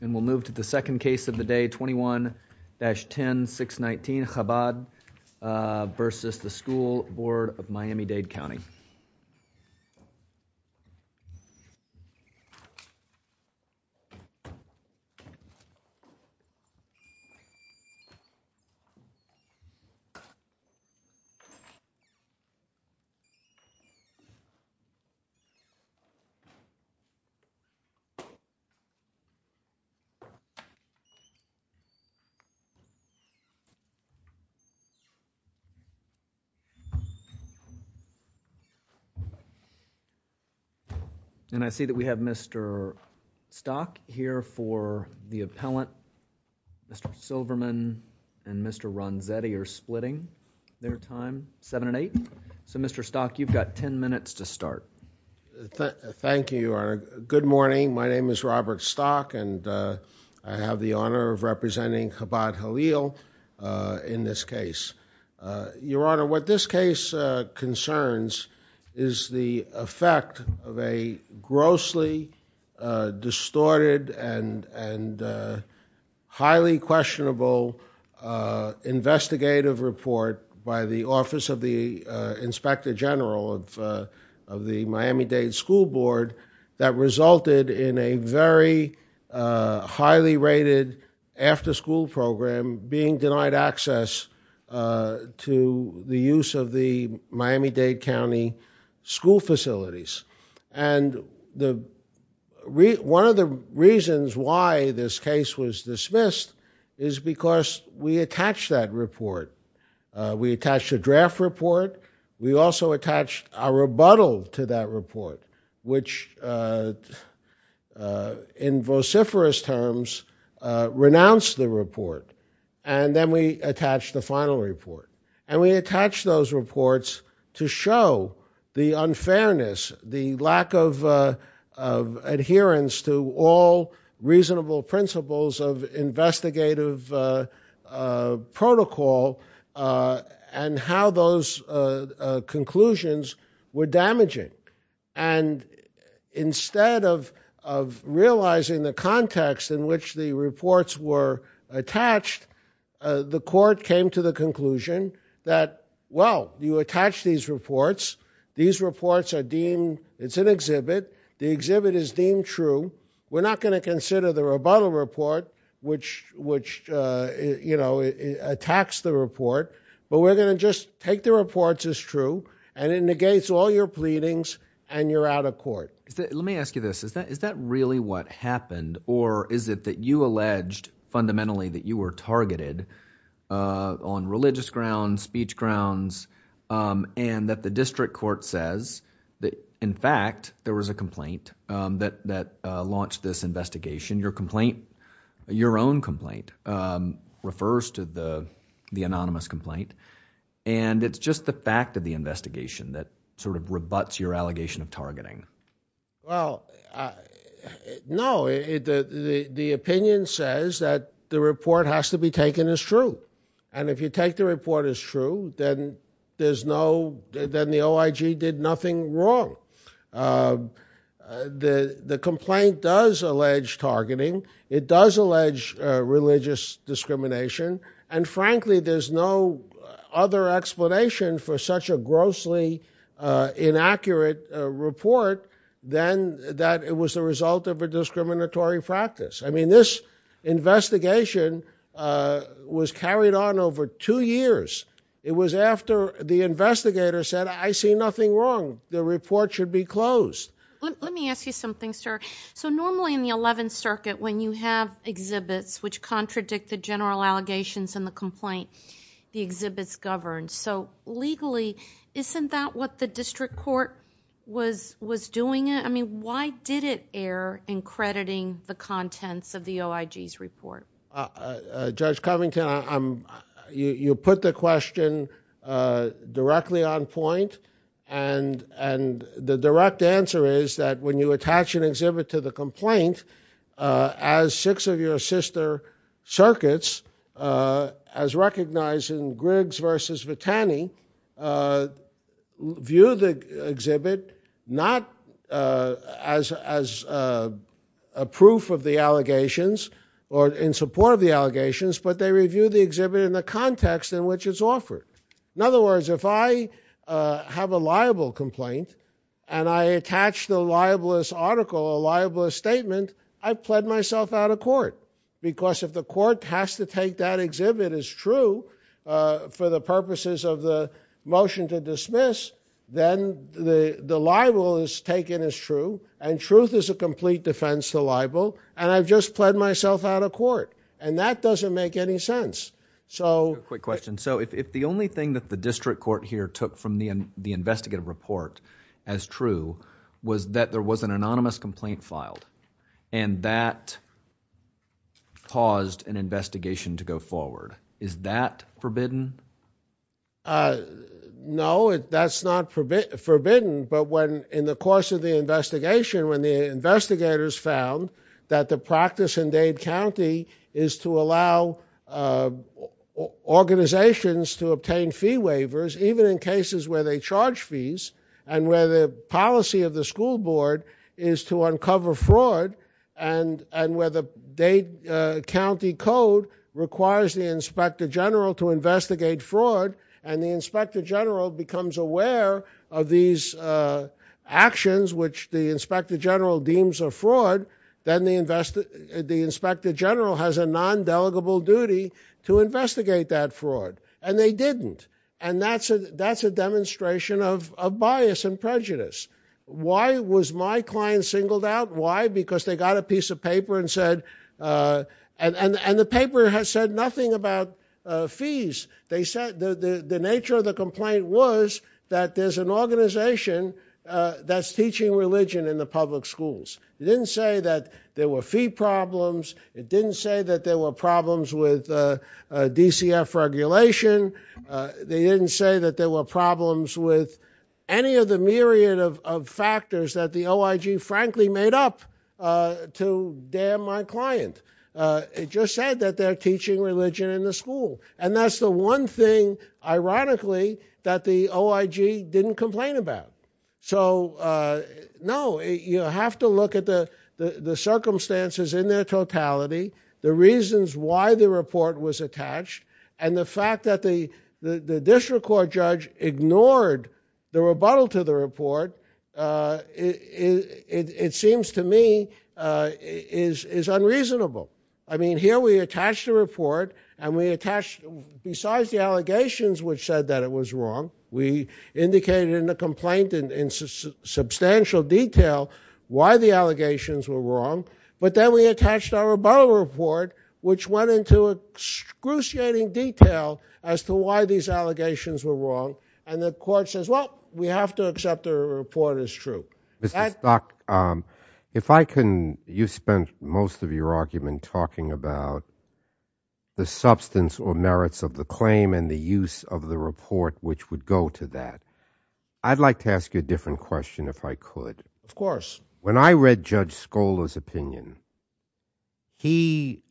And we'll move to the second case of the day, 21-10619, Chabad v. The School Board of Miami-Dade County. And I see that we have Mr. Stock here for the appellant. Mr. Silverman and Mr. Ronzetti are splitting their time, 7 and 8. So, Mr. Stock, you've got 10 minutes to start. Thank you, Your Honor. Good morning. My name is Robert Stock and I have the honor of representing Chabad Chayil in this case. Your Honor, what this case concerns is the effect of a grossly distorted and highly questionable investigative report by the Office of the Inspector General of the Miami-Dade School Board that resulted in a very highly rated after school program being denied access to the use of the Miami-Dade County school facilities. And one of the reasons why this case was dismissed is because we attached that report. We attached a draft report. We also attached a rebuttal to that report, which in vociferous terms, renounced the report. And then we attached the final report. And we attached those reports to show the unfairness, the lack of adherence to all reasonable principles of investigative protocol and how those conclusions were damaging. And instead of realizing the context in which the reports were attached, the court came to the conclusion that, well, you attach these reports. These reports are deemed, it's an exhibit. The exhibit is deemed true. We're not going to consider the rebuttal report, which, you know, attacks the report. But we're going to just take the reports as true. And it negates all your pleadings and you're out of court. Let me ask you this. Is that really what happened? Or is it that you alleged fundamentally that you were targeted on religious grounds, speech grounds, and that the district court says that, in fact, there was a complaint that launched this investigation? Your complaint, your own complaint, refers to the anonymous complaint. And it's just the fact of the investigation that sort of rebuts your allegation of targeting. Well, no. The opinion says that the report has to be taken as true. And if you take the report as true, then there's no, then the OIG did nothing wrong. The complaint does allege targeting. It does allege religious discrimination. And, frankly, there's no other explanation for such a grossly inaccurate report than that it was the result of a discriminatory practice. I mean, this investigation was carried on over two years. It was after the investigator said, I see nothing wrong. The report should be closed. Let me ask you something, sir. So normally in the 11th Circuit, when you have exhibits which contradict the general allegations in the complaint, the exhibits govern. So legally, isn't that what the district court was doing? I mean, why did it err in crediting the contents of the OIG's report? Judge Covington, you put the question directly on point. And the direct answer is that when you attach an exhibit to the complaint, as six of your sister circuits, as recognized in Griggs versus Vitani, view the exhibit not as a proof of the allegations or in support of the allegations, but they review the exhibit in the context in which it's offered. In other words, if I have a libel complaint and I attach the libelous article, a libelous statement, I've pled myself out of court because if the court has to take that exhibit as true for the purposes of the motion to dismiss, then the libel is taken as true and truth is a complete defense to libel. And I've just pled myself out of court. And that doesn't make any sense. Quick question. So if the only thing that the district court here took from the investigative report as true was that there was an anonymous complaint filed and that caused an investigation to go forward, is that forbidden? No, that's not forbidden. But in the course of the investigation, when the investigators found that the practice in Dade County is to allow organizations to obtain fee waivers even in cases where they charge fees and where the policy of the school board is to uncover fraud and where the Dade County code requires the inspector general to investigate fraud and the inspector general becomes aware of these actions which the inspector general deems a fraud, then the inspector general has a non-delegable duty to investigate that fraud. And they didn't. And that's a demonstration of bias and prejudice. Why was my client singled out? Why? Because they got a piece of paper and said, and the paper said nothing about fees. The nature of the complaint was that there's an organization that's teaching religion in the public schools. It didn't say that there were fee problems. It didn't say that there were problems with DCF regulation. They didn't say that there were problems with any of the myriad of factors that the OIG frankly made up to damn my client. It just said that they're teaching religion in the school. And that's the one thing, ironically, that the OIG didn't complain about. So, no, you have to look at the circumstances in their totality, the reasons why the report was attached, and the fact that the district court judge ignored the rebuttal to the report, it seems to me is unreasonable. I mean, here we attach the report and we attach, besides the allegations which said that it was wrong, we indicated in the complaint in substantial detail why the allegations were wrong, but then we attached our rebuttal report, which went into excruciating detail as to why these allegations were wrong, and the court says, well, we have to accept the report as true. Mr. Stock, if I can, you spent most of your argument talking about the substance or merits of the claim and the use of the report which would go to that. I'd like to ask you a different question if I could. Of course. When I read Judge Skola's opinion, he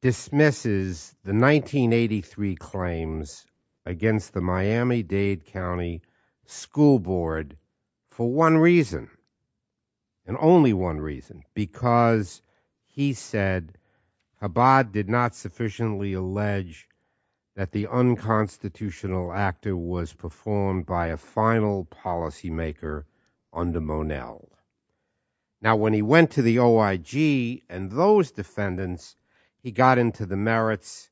dismisses the 1983 claims against the Miami-Dade County School Board for one reason, and only one reason, because he said Chabad did not sufficiently allege that the unconstitutional actor was performed by a final policymaker under Monell. Now, when he went to the OIG and those defendants, he got into the merits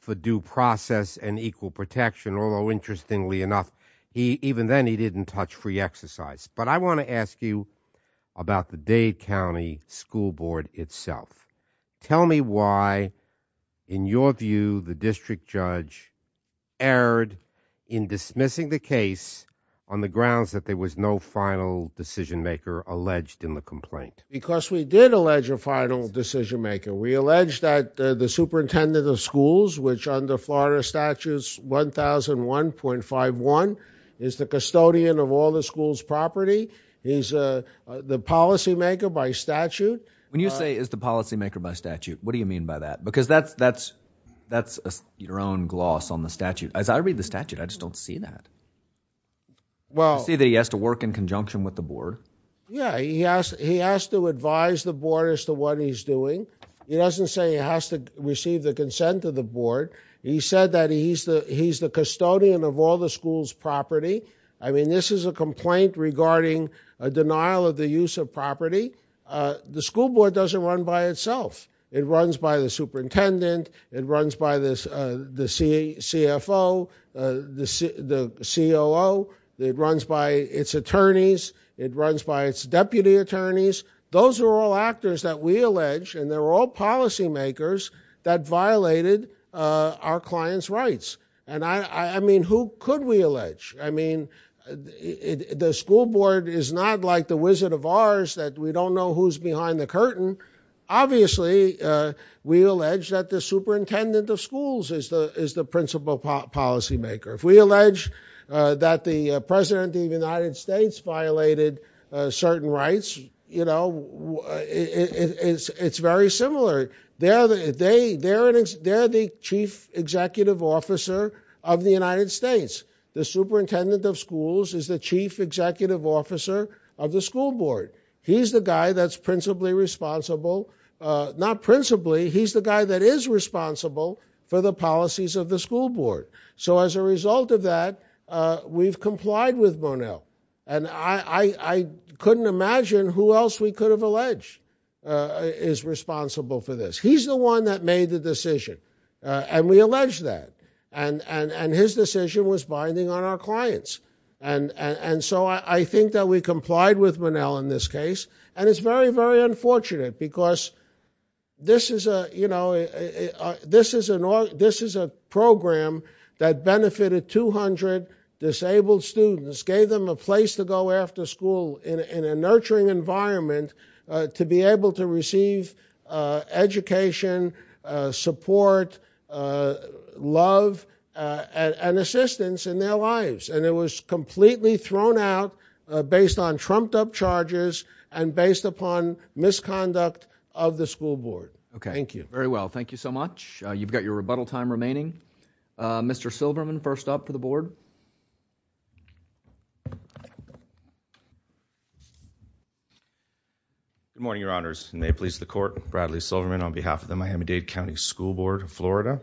for due process and equal protection, although, interestingly enough, even then he didn't touch free exercise. But I want to ask you about the Dade County School Board itself. Tell me why, in your view, the district judge erred in dismissing the case on the grounds that there was no final decisionmaker alleged in the complaint. Because we did allege a final decisionmaker. We allege that the superintendent of schools, which under Florida Statutes 1001.51 is the custodian of all the school's property. He's the policymaker by statute. When you say is the policymaker by statute, what do you mean by that? Because that's your own gloss on the statute. As I read the statute, I just don't see that. I see that he has to work in conjunction with the board. Yeah, he has to advise the board as to what he's doing. He doesn't say he has to receive the consent of the board. He said that he's the custodian of all the school's property. I mean, this is a complaint regarding a denial of the use of property. The school board doesn't run by itself. It runs by the superintendent. It runs by the CFO, the COO. It runs by its attorneys. It runs by its deputy attorneys. Those are all actors that we allege, and they're all policymakers that violated our client's rights. I mean, who could we allege? I mean, the school board is not like the Wizard of Oz that we don't know who's behind the curtain. Obviously, we allege that the superintendent of schools is the principal policymaker. If we allege that the president of the United States violated certain rights, it's very similar. They're the chief executive officer of the United States. The superintendent of schools is the chief executive officer of the school board. He's the guy that's principally responsible. Not principally, he's the guy that is responsible for the policies of the school board. So as a result of that, we've complied with Monell. And I couldn't imagine who else we could have alleged is responsible for this. He's the one that made the decision, and we allege that. And his decision was binding on our clients. And so I think that we complied with Monell in this case. And it's very, very unfortunate, because this is a program that benefited 200 disabled students, gave them a place to go after school in a nurturing environment to be able to receive education, support, love, and assistance in their lives. And it was completely thrown out based on trumped-up charges and based upon misconduct of the school board. Thank you. Very well, thank you so much. You've got your rebuttal time remaining. Mr. Silverman, first up to the board. Good morning, Your Honors. May it please the Court, Bradley Silverman on behalf of the Miami-Dade County School Board of Florida.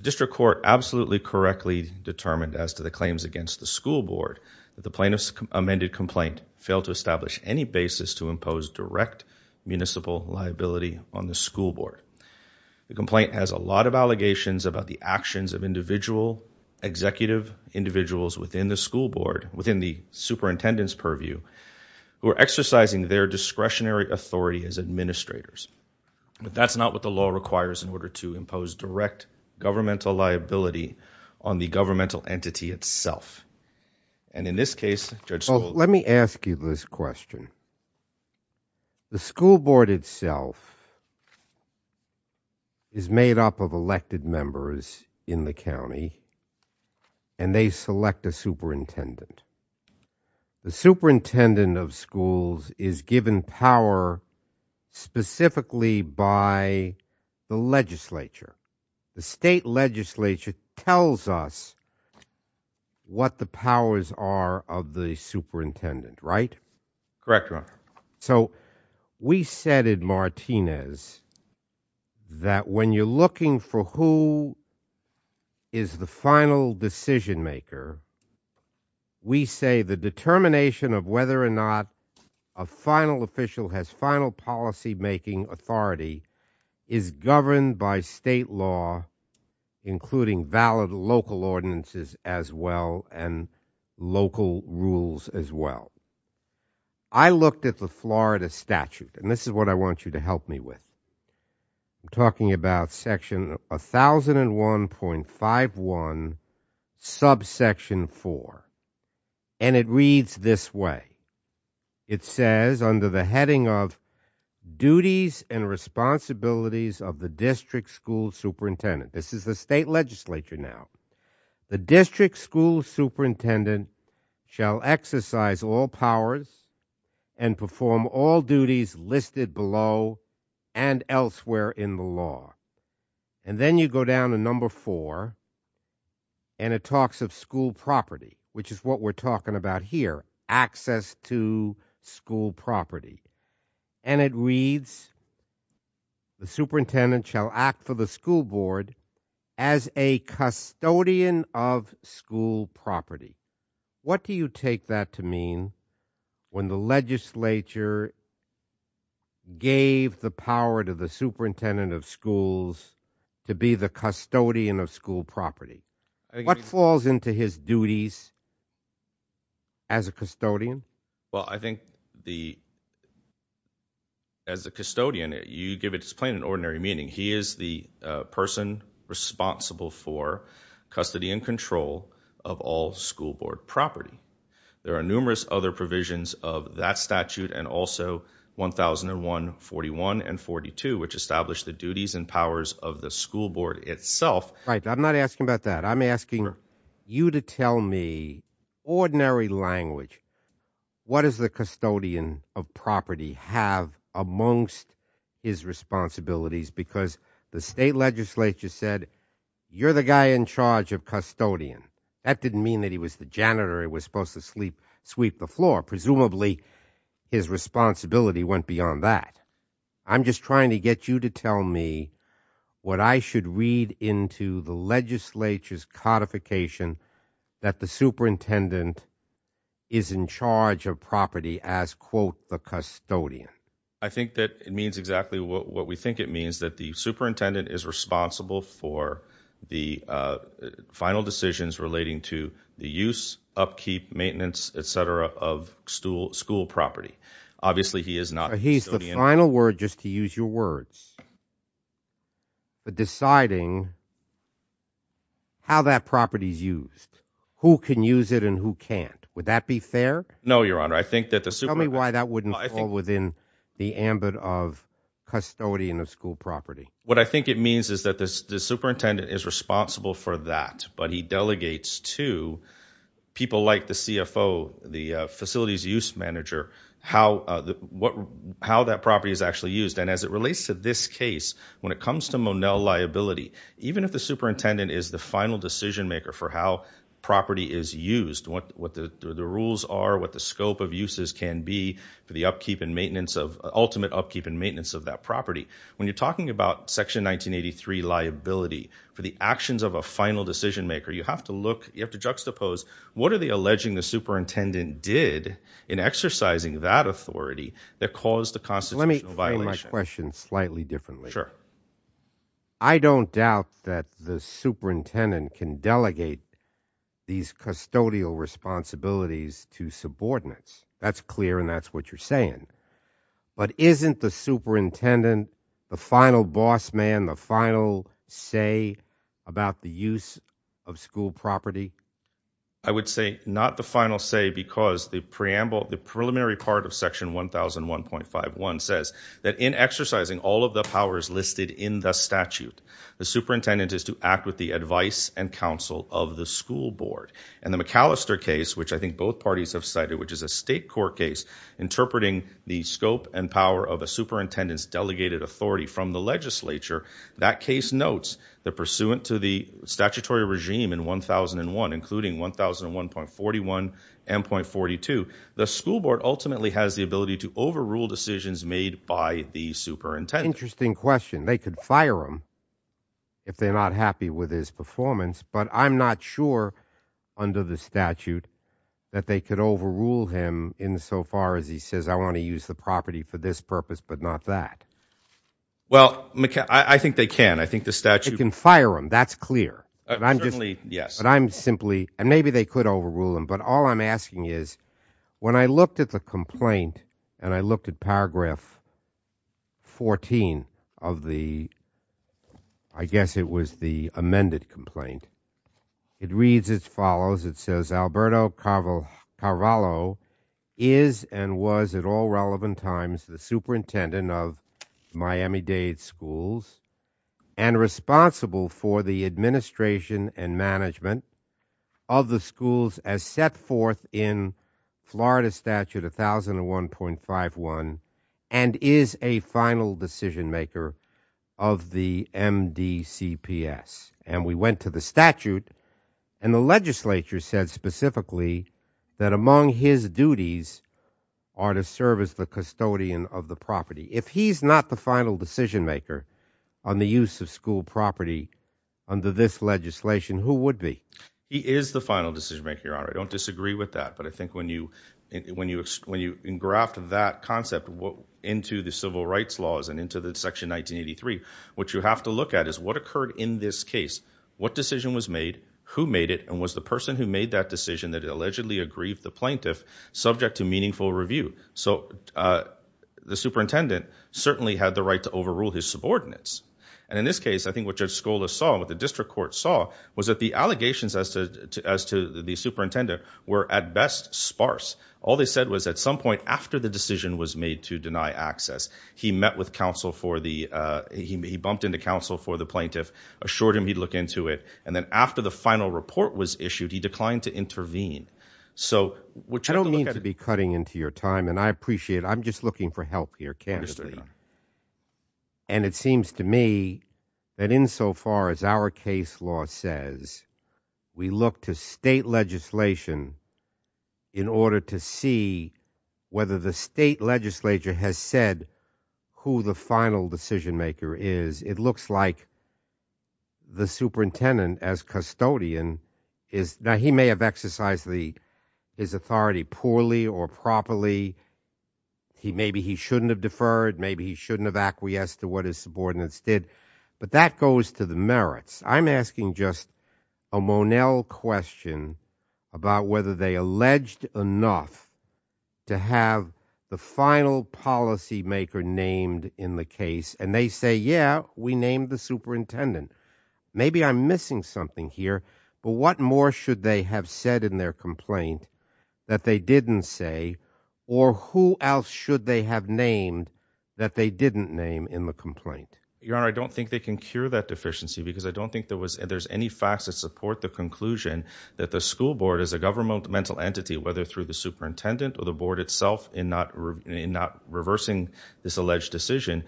District Court absolutely correctly determined as to the claims against the school board that the plaintiff's amended complaint failed to establish any basis to impose direct municipal liability on the school board. The complaint has a lot of allegations about the actions of individual, executive individuals within the school board, within the superintendent's purview, who are exercising their discretionary authority as administrators. But that's not what the law requires in order to impose direct governmental liability on the governmental entity itself. And in this case, Judge Scholz... Well, let me ask you this question. The school board itself is made up of elected members in the county, and they select a superintendent. The superintendent of schools is given power specifically by the legislature. The state legislature tells us what the powers are of the superintendent, right? Correct, Your Honor. So we said in Martinez that when you're looking for who is the final decision-maker, we say the determination of whether or not a final official has final policy-making authority is governed by state law, including valid local ordinances as well and local rules as well. I looked at the Florida statute, and this is what I want you to help me with. I'm talking about Section 1001.51, Subsection 4, and it reads this way. It says, under the heading of Duties and Responsibilities of the District School Superintendent... This is the state legislature now. The District School Superintendent shall exercise all powers and perform all duties listed below and elsewhere in the law. And then you go down to Number 4, and it talks of school property, which is what we're talking about here, access to school property. And it reads, the superintendent shall act for the school board as a custodian of school property. What do you take that to mean when the legislature gave the power to the superintendent of schools to be the custodian of school property? What falls into his duties as a custodian? Well, I think the... As a custodian, you give it just plain and ordinary meaning. He is the person responsible for custody and control of all school board property. There are numerous other provisions of that statute and also 1001.41 and 1001.42, which establish the duties and powers of the school board itself. Right. I'm not asking about that. I'm asking you to tell me, ordinary language, what does the custodian of property have amongst his responsibilities because the state legislature said, you're the guy in charge of custodian. That didn't mean that he was the janitor who was supposed to sweep the floor. Presumably, his responsibility went beyond that. I'm just trying to get you to tell me what I should read into the legislature's codification that the superintendent is in charge of property as, quote, the custodian. I think that it means exactly what we think it means, that the superintendent is responsible for the final decisions relating to the use, upkeep, maintenance, etc., of school property. Obviously, he is not the custodian... He's the final word, just to use your words, but deciding how that property is used, who can use it and who can't. Would that be fair? No, Your Honor, I think that the superintendent... What I think it means is that the superintendent is responsible for that, but he delegates to people like the CFO, the facilities use manager, how that property is actually used. And as it relates to this case, when it comes to Monell liability, even if the superintendent is the final decision maker for how property is used, what the rules are, what the scope of uses can be for the ultimate upkeep and maintenance of that property. When you're talking about Section 1983 liability for the actions of a final decision maker, you have to juxtapose, what are they alleging the superintendent did in exercising that authority that caused the constitutional violation? Let me put my question slightly differently. Sure. I don't doubt that the superintendent can delegate these custodial responsibilities to subordinates. That's clear and that's what you're saying. But isn't the superintendent the final boss man, the final say about the use of school property? I would say not the final say because the preliminary part of Section 1001.51 says that in exercising all of the powers listed in the statute, the superintendent is to act with the advice and counsel of the school board. And the McAllister case, which I think both parties have cited, which is a state court case interpreting the scope and power of a superintendent's delegated authority from the legislature, that case notes that, pursuant to the statutory regime in 1001, including 1001.41 and .42, the school board ultimately has the ability to overrule decisions made by the superintendent. Interesting question. They could fire him if they're not happy with his performance, but I'm not sure under the statute that they could overrule him insofar as he says, I want to use the property for this purpose, but not that. Well, I think they can. I think the statute can fire him. That's clear. I'm just, yes, but I'm simply, and maybe they could overrule him. But all I'm asking is when I looked at the complaint and I looked at paragraph 14 of the, I guess it was the amended complaint, it reads as follows. It says Alberto Carvalho is and was at all relevant times the superintendent of Miami-Dade schools and responsible for the administration and management of the schools as set forth in Florida Statute 1001.51 and is a final decision maker of the MDCPS. And we went to the statute and the legislature said specifically that among his duties are to serve as the custodian of the property. If he's not the final decision maker on the use of school property under this legislation, who would be? He is the final decision maker, Your Honor. I don't disagree with that, but I think when you engraft that concept into the civil rights laws and into the section 1983, what you have to look at is what occurred in this case, what decision was made, who made it, and was the person who made that decision that allegedly aggrieved the plaintiff subject to meaningful review. So the superintendent certainly had the right to overrule his subordinates. And in this case, I think what Judge Scola saw and what the district court saw was that the allegations as to the superintendent were at best sparse. All they said was at some point after the decision was made to deny access, he met with counsel for the, he bumped into counsel for the plaintiff, assured him he'd look into it, and then after the final report was issued, he declined to intervene. So what you have to look at... I don't mean to be cutting into your time, and I appreciate it. I'm just looking for help here, candidly. Yes, Your Honor. And it seems to me that insofar as our case law says we look to state legislation in order to see whether the state legislature has said who the final decision maker is, it looks like the superintendent as custodian is... Now, he may have exercised his authority poorly or properly. Maybe he shouldn't have deferred. Maybe he shouldn't have acquiesced to what his subordinates did. But that goes to the merits. I'm asking just a Monell question about whether they alleged enough to have the final policy maker named in the case. And they say, yeah, we named the superintendent. Maybe I'm missing something here. But what more should they have said in their complaint that they didn't say? Or who else should they have named that they didn't name in the complaint? Your Honor, I don't think they can cure that deficiency because I don't think there's any facts that support the conclusion that the school board is a governmental entity, whether through the superintendent or the board itself in not reversing this alleged decision.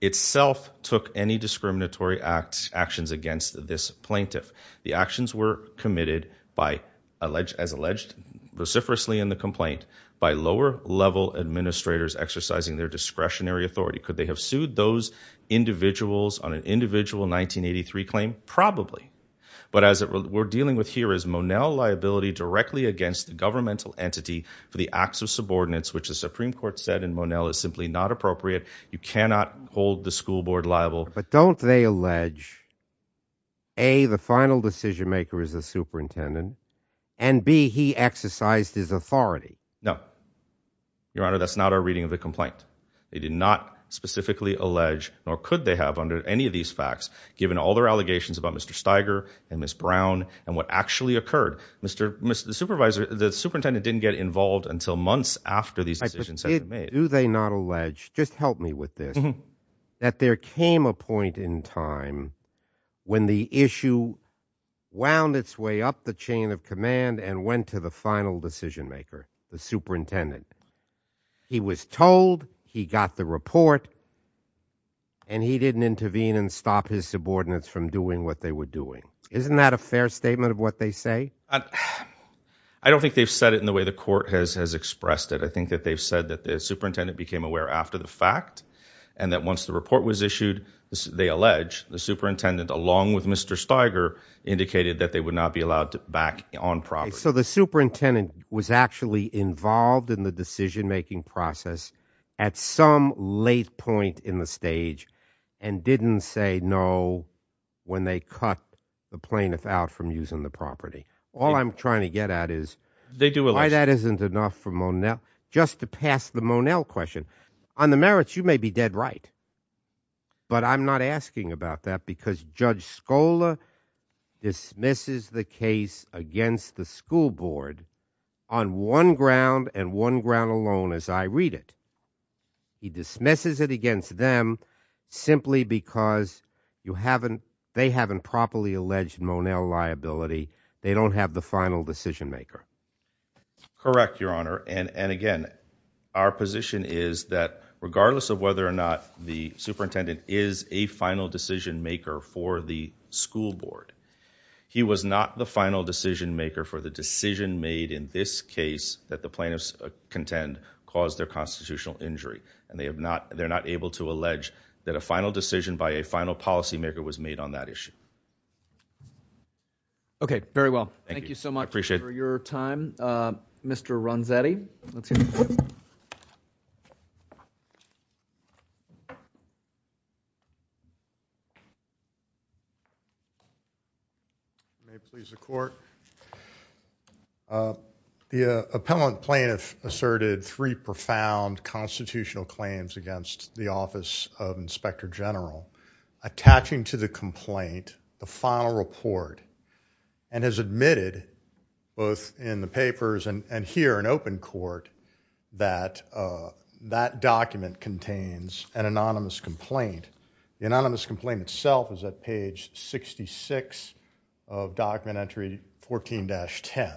Itself took any discriminatory actions against this plaintiff. The actions were committed as alleged vociferously in the complaint by lower level administrators exercising their discretionary authority. Could they have sued those individuals on an individual 1983 claim? Probably. But what we're dealing with here is Monell liability directly against the governmental entity for the acts of subordinates, which the Supreme Court said in Monell is simply not appropriate. You cannot hold the school board liable. But don't they allege A, the final decision maker is the superintendent and B, he exercised his authority. No. Your Honor, that's not our reading of the complaint. They did not specifically allege nor could they have under any of these facts given all their allegations about Mr. Steiger and Ms. Brown and what actually occurred. The superintendent didn't get involved until months after these decisions had been made. Do they not allege? Just help me with this. That there came a point in time when the issue wound its way up the chain of command and went to the final decision maker, the superintendent. He was told, he got the report, and he didn't intervene and stop his subordinates from doing what they were doing. Isn't that a fair statement of what they say? I don't think they've said it in the way the court has expressed it. I think that they've said that the superintendent became aware after the fact and that once the report was issued, they allege, the superintendent, along with Mr. Steiger, indicated that they would not be allowed back on property. So the superintendent was actually involved in the decision-making process at some late point in the stage and didn't say no when they cut the plaintiff out from using the property. All I'm trying to get at is why that isn't enough for Monell. Just to pass the Monell question, on the merits, you may be dead right, but I'm not asking about that because Judge Scola dismisses the case against the school board on one ground and one ground alone as I read it. He dismisses it against them simply because they haven't properly alleged Monell liability. They don't have the final decision-maker. Correct, Your Honor. And again, our position is that regardless of whether or not the superintendent is a final decision-maker for the school board, he was not the final decision-maker for the decision made in this case that the plaintiffs contend caused their constitutional injury. And they're not able to allege that a final decision by a final policymaker was made on that issue. Okay, very well. Thank you so much for your time. I appreciate it. Mr. Ronzetti, let's hear from you. May it please the court. The appellant plaintiff asserted three profound constitutional claims against the Office of Inspector General attaching to the complaint the final report and has admitted both in the papers and here in open court that that document contains an anonymous complaint. The anonymous complaint itself is at page 66 of document entry 14-10.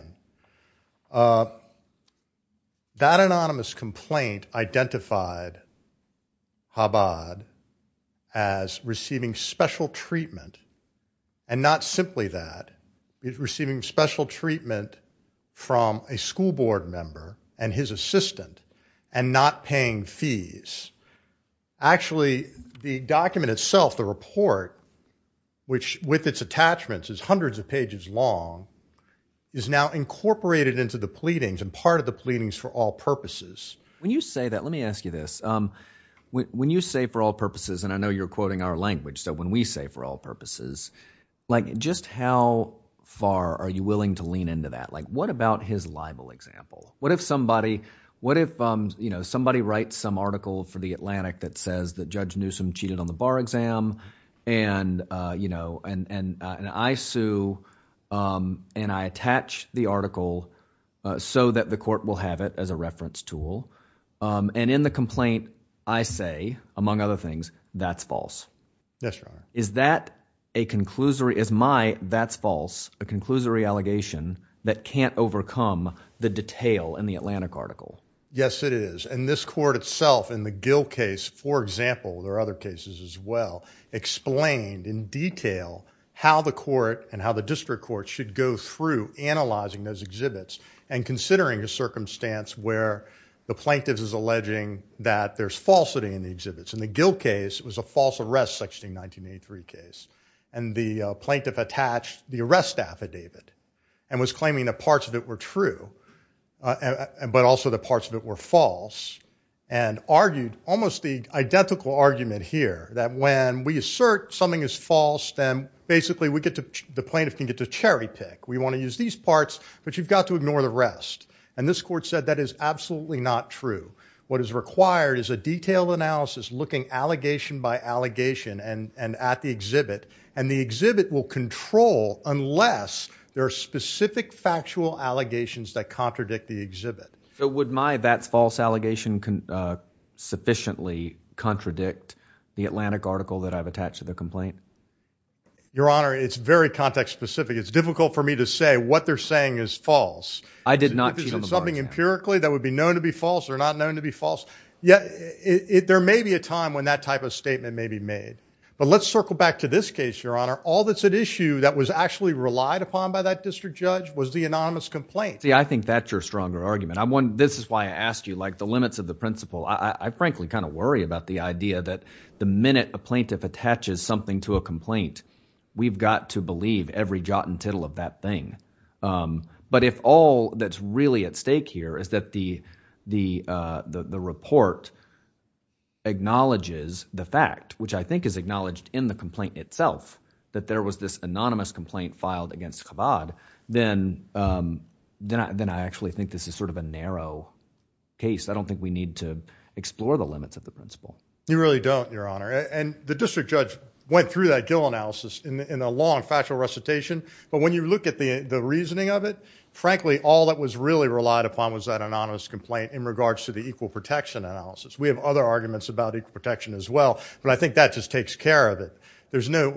That anonymous complaint identified Habbad as receiving special treatment and not simply that, receiving special treatment from a school board member and his assistant and not paying fees. Actually, the document itself, the report, which with its attachments is hundreds of pages long, is now incorporated into the pleadings and part of the pleadings for all purposes. When you say that, let me ask you this. When you say for all purposes, and I know you're quoting our language, so when we say for all purposes, like just how far are you willing to lean into that? Like what about his libel example? What if somebody writes some article for The Atlantic that says that Judge Newsom cheated on the bar exam and I sue and I attach the article so that the court will have it as a reference tool and in the complaint I say, among other things, that's false. Yes, Your Honor. Is that a conclusory, is my that's false a conclusory allegation that can't overcome the detail in The Atlantic article? Yes, it is. And this court itself in the Gill case, for example, there are other cases as well, explained in detail how the court and how the district court should go through analyzing those exhibits and considering a circumstance where the plaintiff is alleging that there's falsity in the exhibits. In the Gill case, it was a false arrest section in 1983 case and the plaintiff attached the arrest affidavit and was claiming that parts of it were true but also the parts of it were false and argued almost the identical argument here that when we assert something is false then basically we get to, the plaintiff can get to cherry pick. We want to use these parts but you've got to ignore the rest and this court said that is absolutely not true. What is required is a detailed analysis looking allegation by allegation and at the exhibit and the exhibit will control unless there are specific factual allegations that contradict the exhibit. So would my VATS false allegation sufficiently contradict the Atlantic article that I've attached to the complaint? Your Honor, it's very context specific. It's difficult for me to say what they're saying is false. I did not cheat on the bar chart. Is it something empirically that would be known to be false or not known to be false? Yet, there may be a time when that type of statement may be made but let's circle back to this case, Your Honor. All that's at issue that was actually relied upon by that district judge was the anonymous complaint. See, I think that's your stronger argument. This is why I asked you like the limits of the principle. I frankly kind of worry about the idea that the minute a plaintiff attaches something to a complaint, we've got to believe every jot and tittle of that thing but if all that's really at stake here is that the report acknowledges the fact which I think is acknowledged in the complaint itself that there was this anonymous complaint filed against Chabad, then I actually think this is sort of a narrow case. I don't think we need to explore the limits of the principle. You really don't, Your Honor, and the district judge went through that Gill analysis in a long factual recitation but when you look at the reasoning of it, frankly, all that was really relied upon was that anonymous complaint in regards to the equal protection analysis. We have other arguments about equal protection as well but I think that just takes care of it. There's no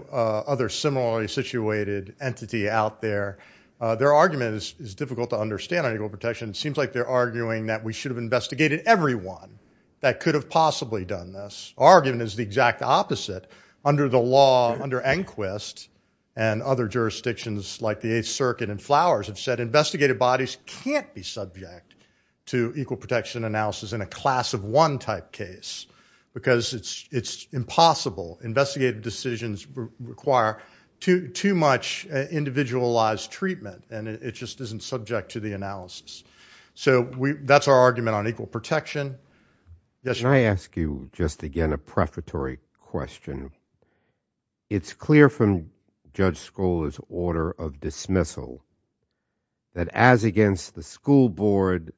other similarly situated entity out there. Their argument is difficult to understand on equal protection. It seems like they're arguing that we should've investigated everyone that could've possibly done this. Our argument is the exact opposite. Under the law, under Enquist and other jurisdictions like the Eighth Circuit and Flowers have said investigated bodies can't be subject to equal protection analysis in a class of one type case because it's impossible. Investigative decisions require too much individualized treatment and it just isn't subject to the analysis. So that's our argument on equal protection. Yes? Can I ask you just again a prefatory question? It's clear from Judge Skoller's order of dismissal that as against the school board,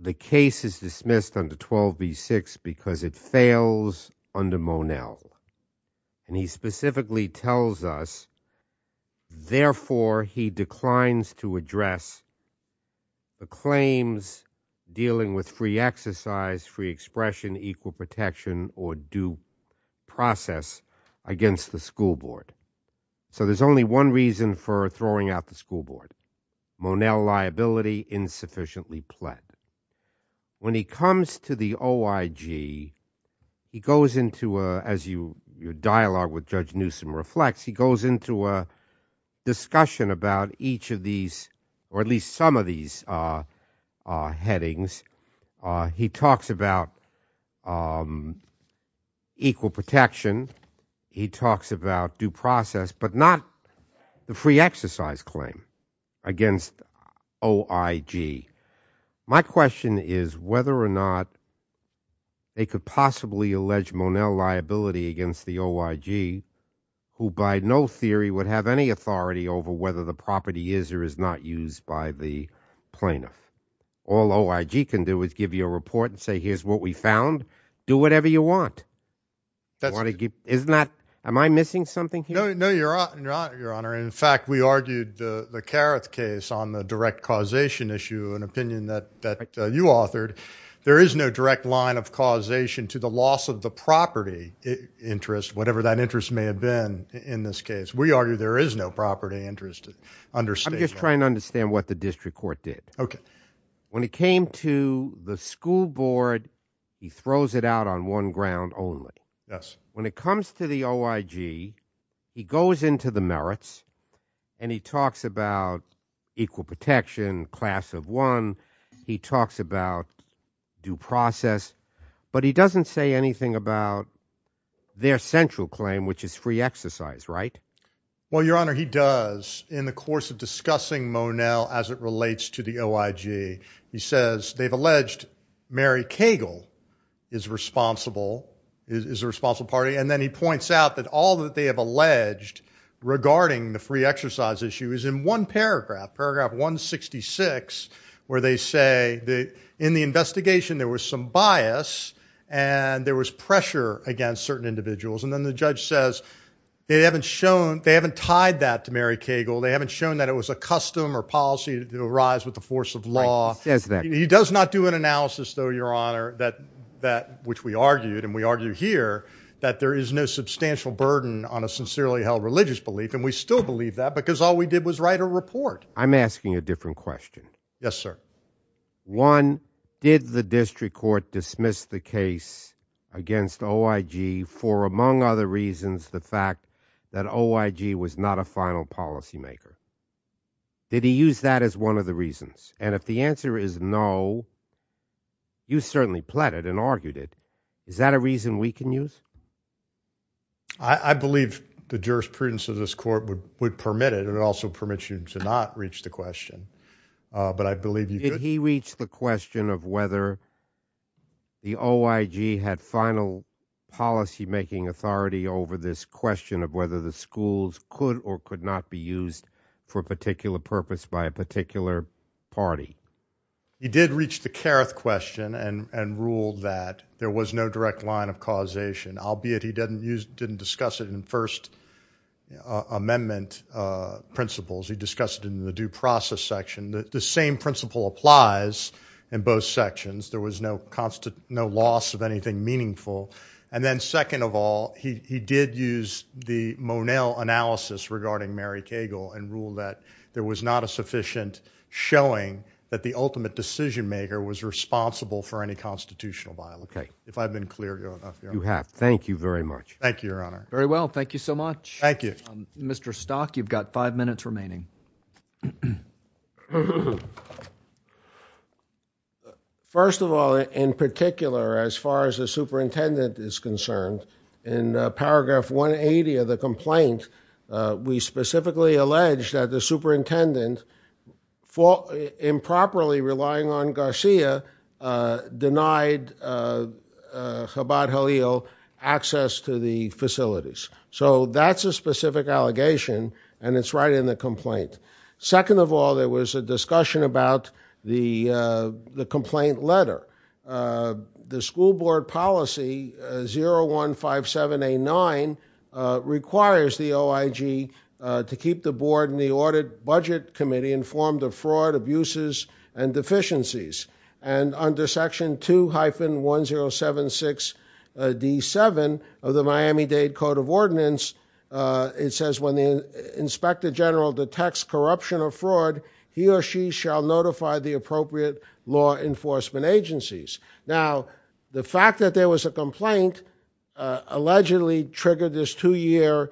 the case is dismissed under 12b-6 because it fails under Monell. And he specifically tells us therefore he declines to address the claims dealing with free exercise, free expression, equal protection or due process against the school board. for throwing out the school board. Monell liability insufficiently pled. When he comes to the OIG, he goes into, as your dialogue with Judge Newsom reflects, he goes into a discussion about each of these or at least some of these headings. He talks about equal protection. He talks about due process but not the free exercise claim against OIG. My question is whether or not they could possibly allege Monell liability against the OIG who by no theory would have any authority over whether the property is or is not used by the plaintiff. All OIG can do is give you a report and say here's what we found. Do whatever you want. Am I missing something here? No, your honor. In fact, we argued the Carruth case on the direct causation issue an opinion that you authored. There is no direct line of causation to the loss of the property interest whatever that interest may have been in this case. We argue there is no property interest under state law. I'm just trying to understand what the district court did. Okay. When it came to the school board, he throws it out on one ground only. Yes. When it comes to the OIG, he goes into the merits and he talks about equal protection, class of one. He talks about due process. But he doesn't say anything about their central claim which is free exercise, right? Well, your honor, he does in the course of discussing Monel as it relates to the OIG. He says they've alleged Mary Cagle is responsible is a responsible party and then he points out that all that they have alleged regarding the free exercise issue is in one paragraph. Paragraph 166 where they say in the investigation there was some bias and there was pressure against certain individuals and then the judge says they haven't shown they haven't tied that to Mary Cagle. They haven't shown that it was a custom or policy to arise with the force of law. He does not do an analysis though, your honor that which we argued and we argue here that there is no substantial burden on a sincerely held religious belief and we still believe that because all we did was write a report. I'm asking a different question. Yes, sir. One, did the district court dismiss the case against OIG for among other reasons the fact that OIG was not a final policy maker? Did he use that as one of the reasons? And if the answer is no you certainly pleaded and argued it. Is that a reason we can use? I believe the jurisprudence of this court would permit it and it would also permit you to not reach the question. But I believe you could. Did he reach the question of whether the OIG had final policy making authority over this question of whether the schools could or could not be used for a particular purpose by a particular party? He did reach the careth question and ruled that there was no direct line of causation albeit he didn't discuss it in the first amendment principles. He discussed it in the due process section. The same principle applies in both sections. There was no loss of anything meaningful. And then second of all he did use the Monell analysis regarding Mary Cagle and ruled that there was not a sufficient showing that the ultimate decision maker was responsible for any constitutional violation. If I've been clear enough. You have. Thank you very much. Thank you your honor. Very well. Thank you so much. Thank you. Mr. Stock you've got five minutes remaining. First of all in particular as far as the superintendent is concerned in paragraph 180 of the complaint we specifically allege that the superintendent improperly relying on Garcia denied Chabad Halil access to the facilities. So that's a specific allegation and it's right in the complaint. Second of all there was a discussion about the complaint letter. The school board policy 015789 requires the OIG to keep the board and the audit budget committee informed of fraud abuses and deficiencies. And under section 2-1076D7 of the Miami-Dade Code of Ordinance it says when the inspector general detects corruption or fraud he or she shall notify the appropriate law enforcement agencies. Now the fact that there was a complaint allegedly triggered this two year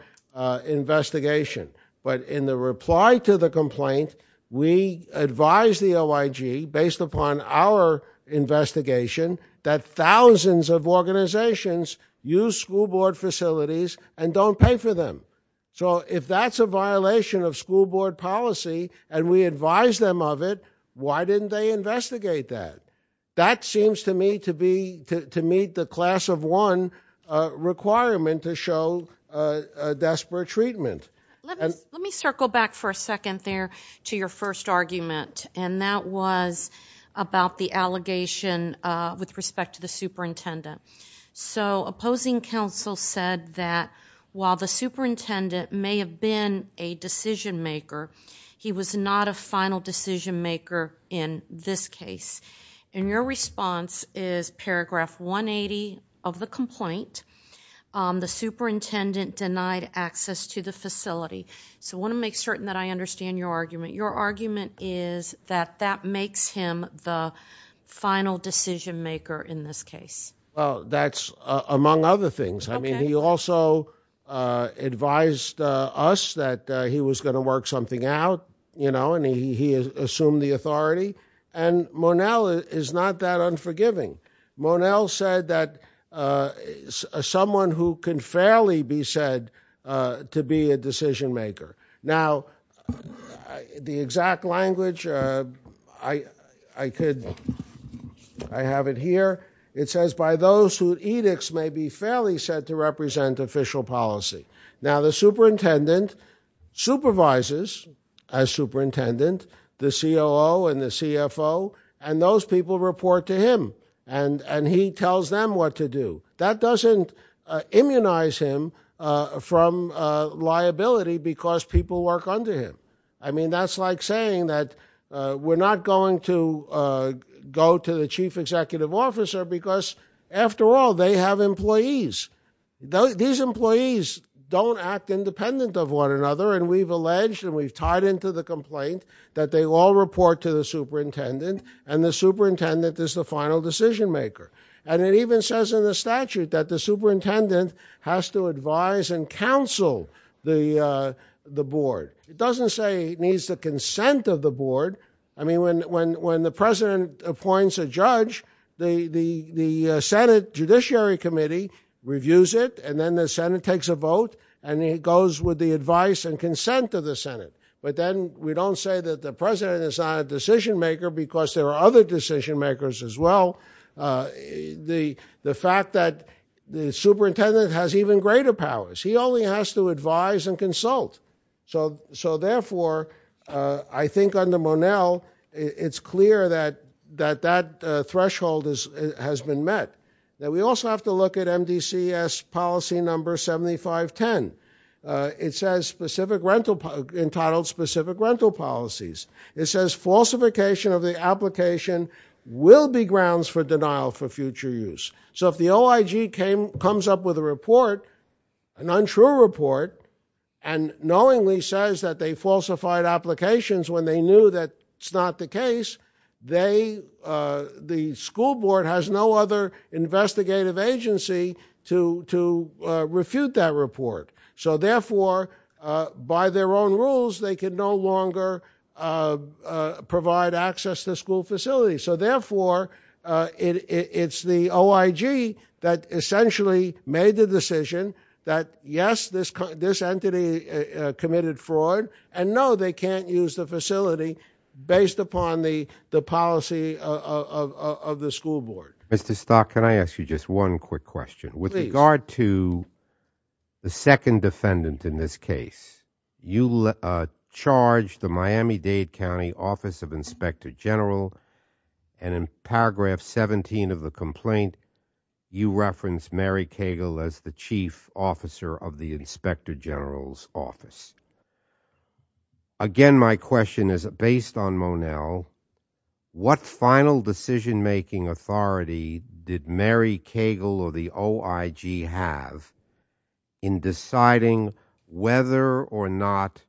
investigation. But in the reply to the complaint we advise the OIG based upon our investigation that thousands of organizations use school board facilities and don't pay for them. So if that's a violation of school board policy and we advise them of it why didn't they investigate that? That seems to me to be to meet the class of one requirement to show a desperate treatment. Let me circle back for a second there to your first argument. And that was about the allegation with respect to the superintendent. So opposing counsel said that while the superintendent may have been a decision maker he was not a final decision maker in this case. And your response is paragraph 180 of the complaint the superintendent denied access to the facility. So I want to make certain that I understand your argument. Your argument is that that makes him the final decision maker in this case. Well that's among other things. I mean he also advised us that he was going to work something out and he assumed the authority. And Monell is not that unforgiving. Monell said that someone who can fairly be said to be a decision maker. Now the exact language I could I have it here. It says by those who edicts may be fairly said to represent official policy. Now the superintendent supervises as superintendent the COO and the CFO and those people report to him and he tells them what to do. That doesn't immunize him from liability because people work under him. I mean that's like saying that we're not going to go to the chief executive officer because after all they have employees. These employees don't act independent of one another and we've alleged and we've tied into the complaint that they all report to the superintendent and the superintendent is the final decision maker. And it even says in the statute that the superintendent has to advise and counsel the board. It doesn't say he needs the consent of the board. I mean when the president appoints a judge the Senate Judiciary Committee reviews it and then the Senate takes a vote and it goes with the advice and consent of the Senate. But then we don't say that the president is not a decision maker because there are other decision makers as well. The fact that the superintendent has even greater powers. He only has to advise and consult. So therefore I think under Monell it's clear that that threshold has been met. Now we also have to look at MDCS policy number 7510. It says entitled specific rental policies. It says falsification of the application So if the OIG comes up with a report an untrue report and knowingly says that they falsified applications when they knew that it's not the case the school board has no other investigative agency to refute that report. So therefore by their own rules they can no longer provide access to school facilities. So therefore it's the OIG that essentially made the decision that yes this entity committed fraud and no they can't use the facility based upon the policy of the school board. Mr. Stock can I ask you just one quick question. With regard to the second defendant in this case you charged the Miami-Dade County Office of Inspector General and in paragraph 17 of the complaint you referenced Mary Cagle as the chief officer of the Inspector General's office. Again my question is based on Monell what final decision making authority did Mary Cagle or the OIG have in deciding whether or not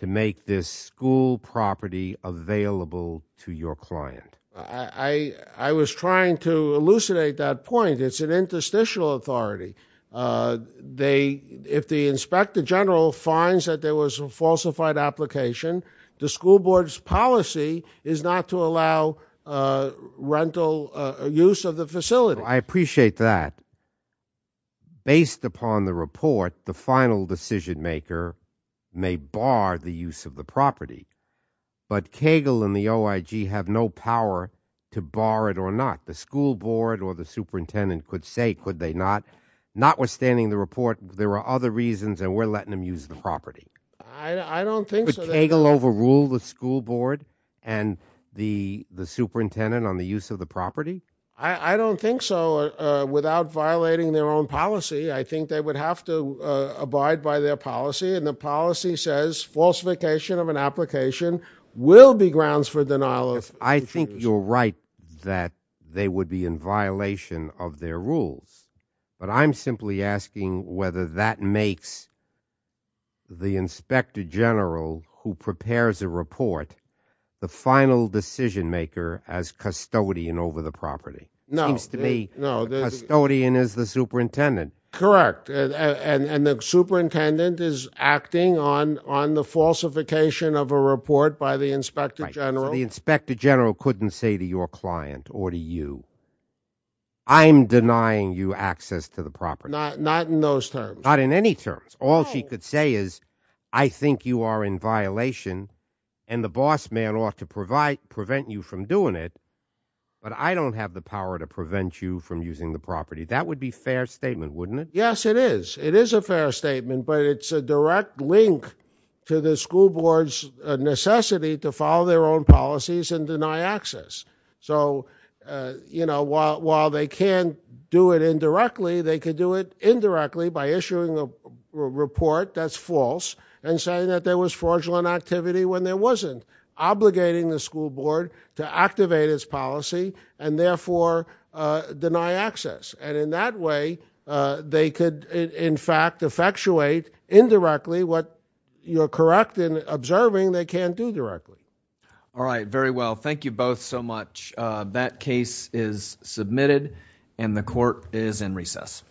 to make this school property available to your client. I was trying to elucidate that point. It's an interstitial authority. If the Inspector General finds that there was a falsified application the school board's policy is not to allow rental use of the facility. I appreciate that. Based upon the report the final decision maker may bar the use of the property but Cagle and the OIG have no power to bar it or not. The school board or the superintendent could say could they not. Notwithstanding the report there are other reasons and we're letting them use the property. I don't think so. Could Cagle overrule the school board and the superintendent on the use of the property? I don't think so without violating their own policy. I think they would have to abide by their policy and the policy says falsification of an application will be grounds for denial of... I think you're right that they would be in violation of their rules. But I'm simply asking whether that makes the Inspector General who prepares a report the final decision maker as custodian over the property. Seems to me custodian is the superintendent. Correct. And the superintendent is acting on the falsification of a report by the Inspector General. The Inspector General couldn't say to your client or to you I'm denying you access to the property. Not in those terms. Not in any terms. All she could say is I think you are in violation and the boss man ought to prevent you from doing it but I don't have the power to prevent you from using the property. That would be a fair statement wouldn't it? Yes it is. It is a fair statement but it's a direct link to the school board's necessity to follow their own policies and deny access. So you know while they can do it indirectly they could do it indirectly by issuing a report that's false and saying that there was fraudulent activity when there wasn't. Obligating the school board to activate its policy and therefore deny access. And in that way they could in fact effectuate indirectly what you're correct in observing they can't do directly. Alright very well. Thank you both so much. That case is submitted and the court is in recess.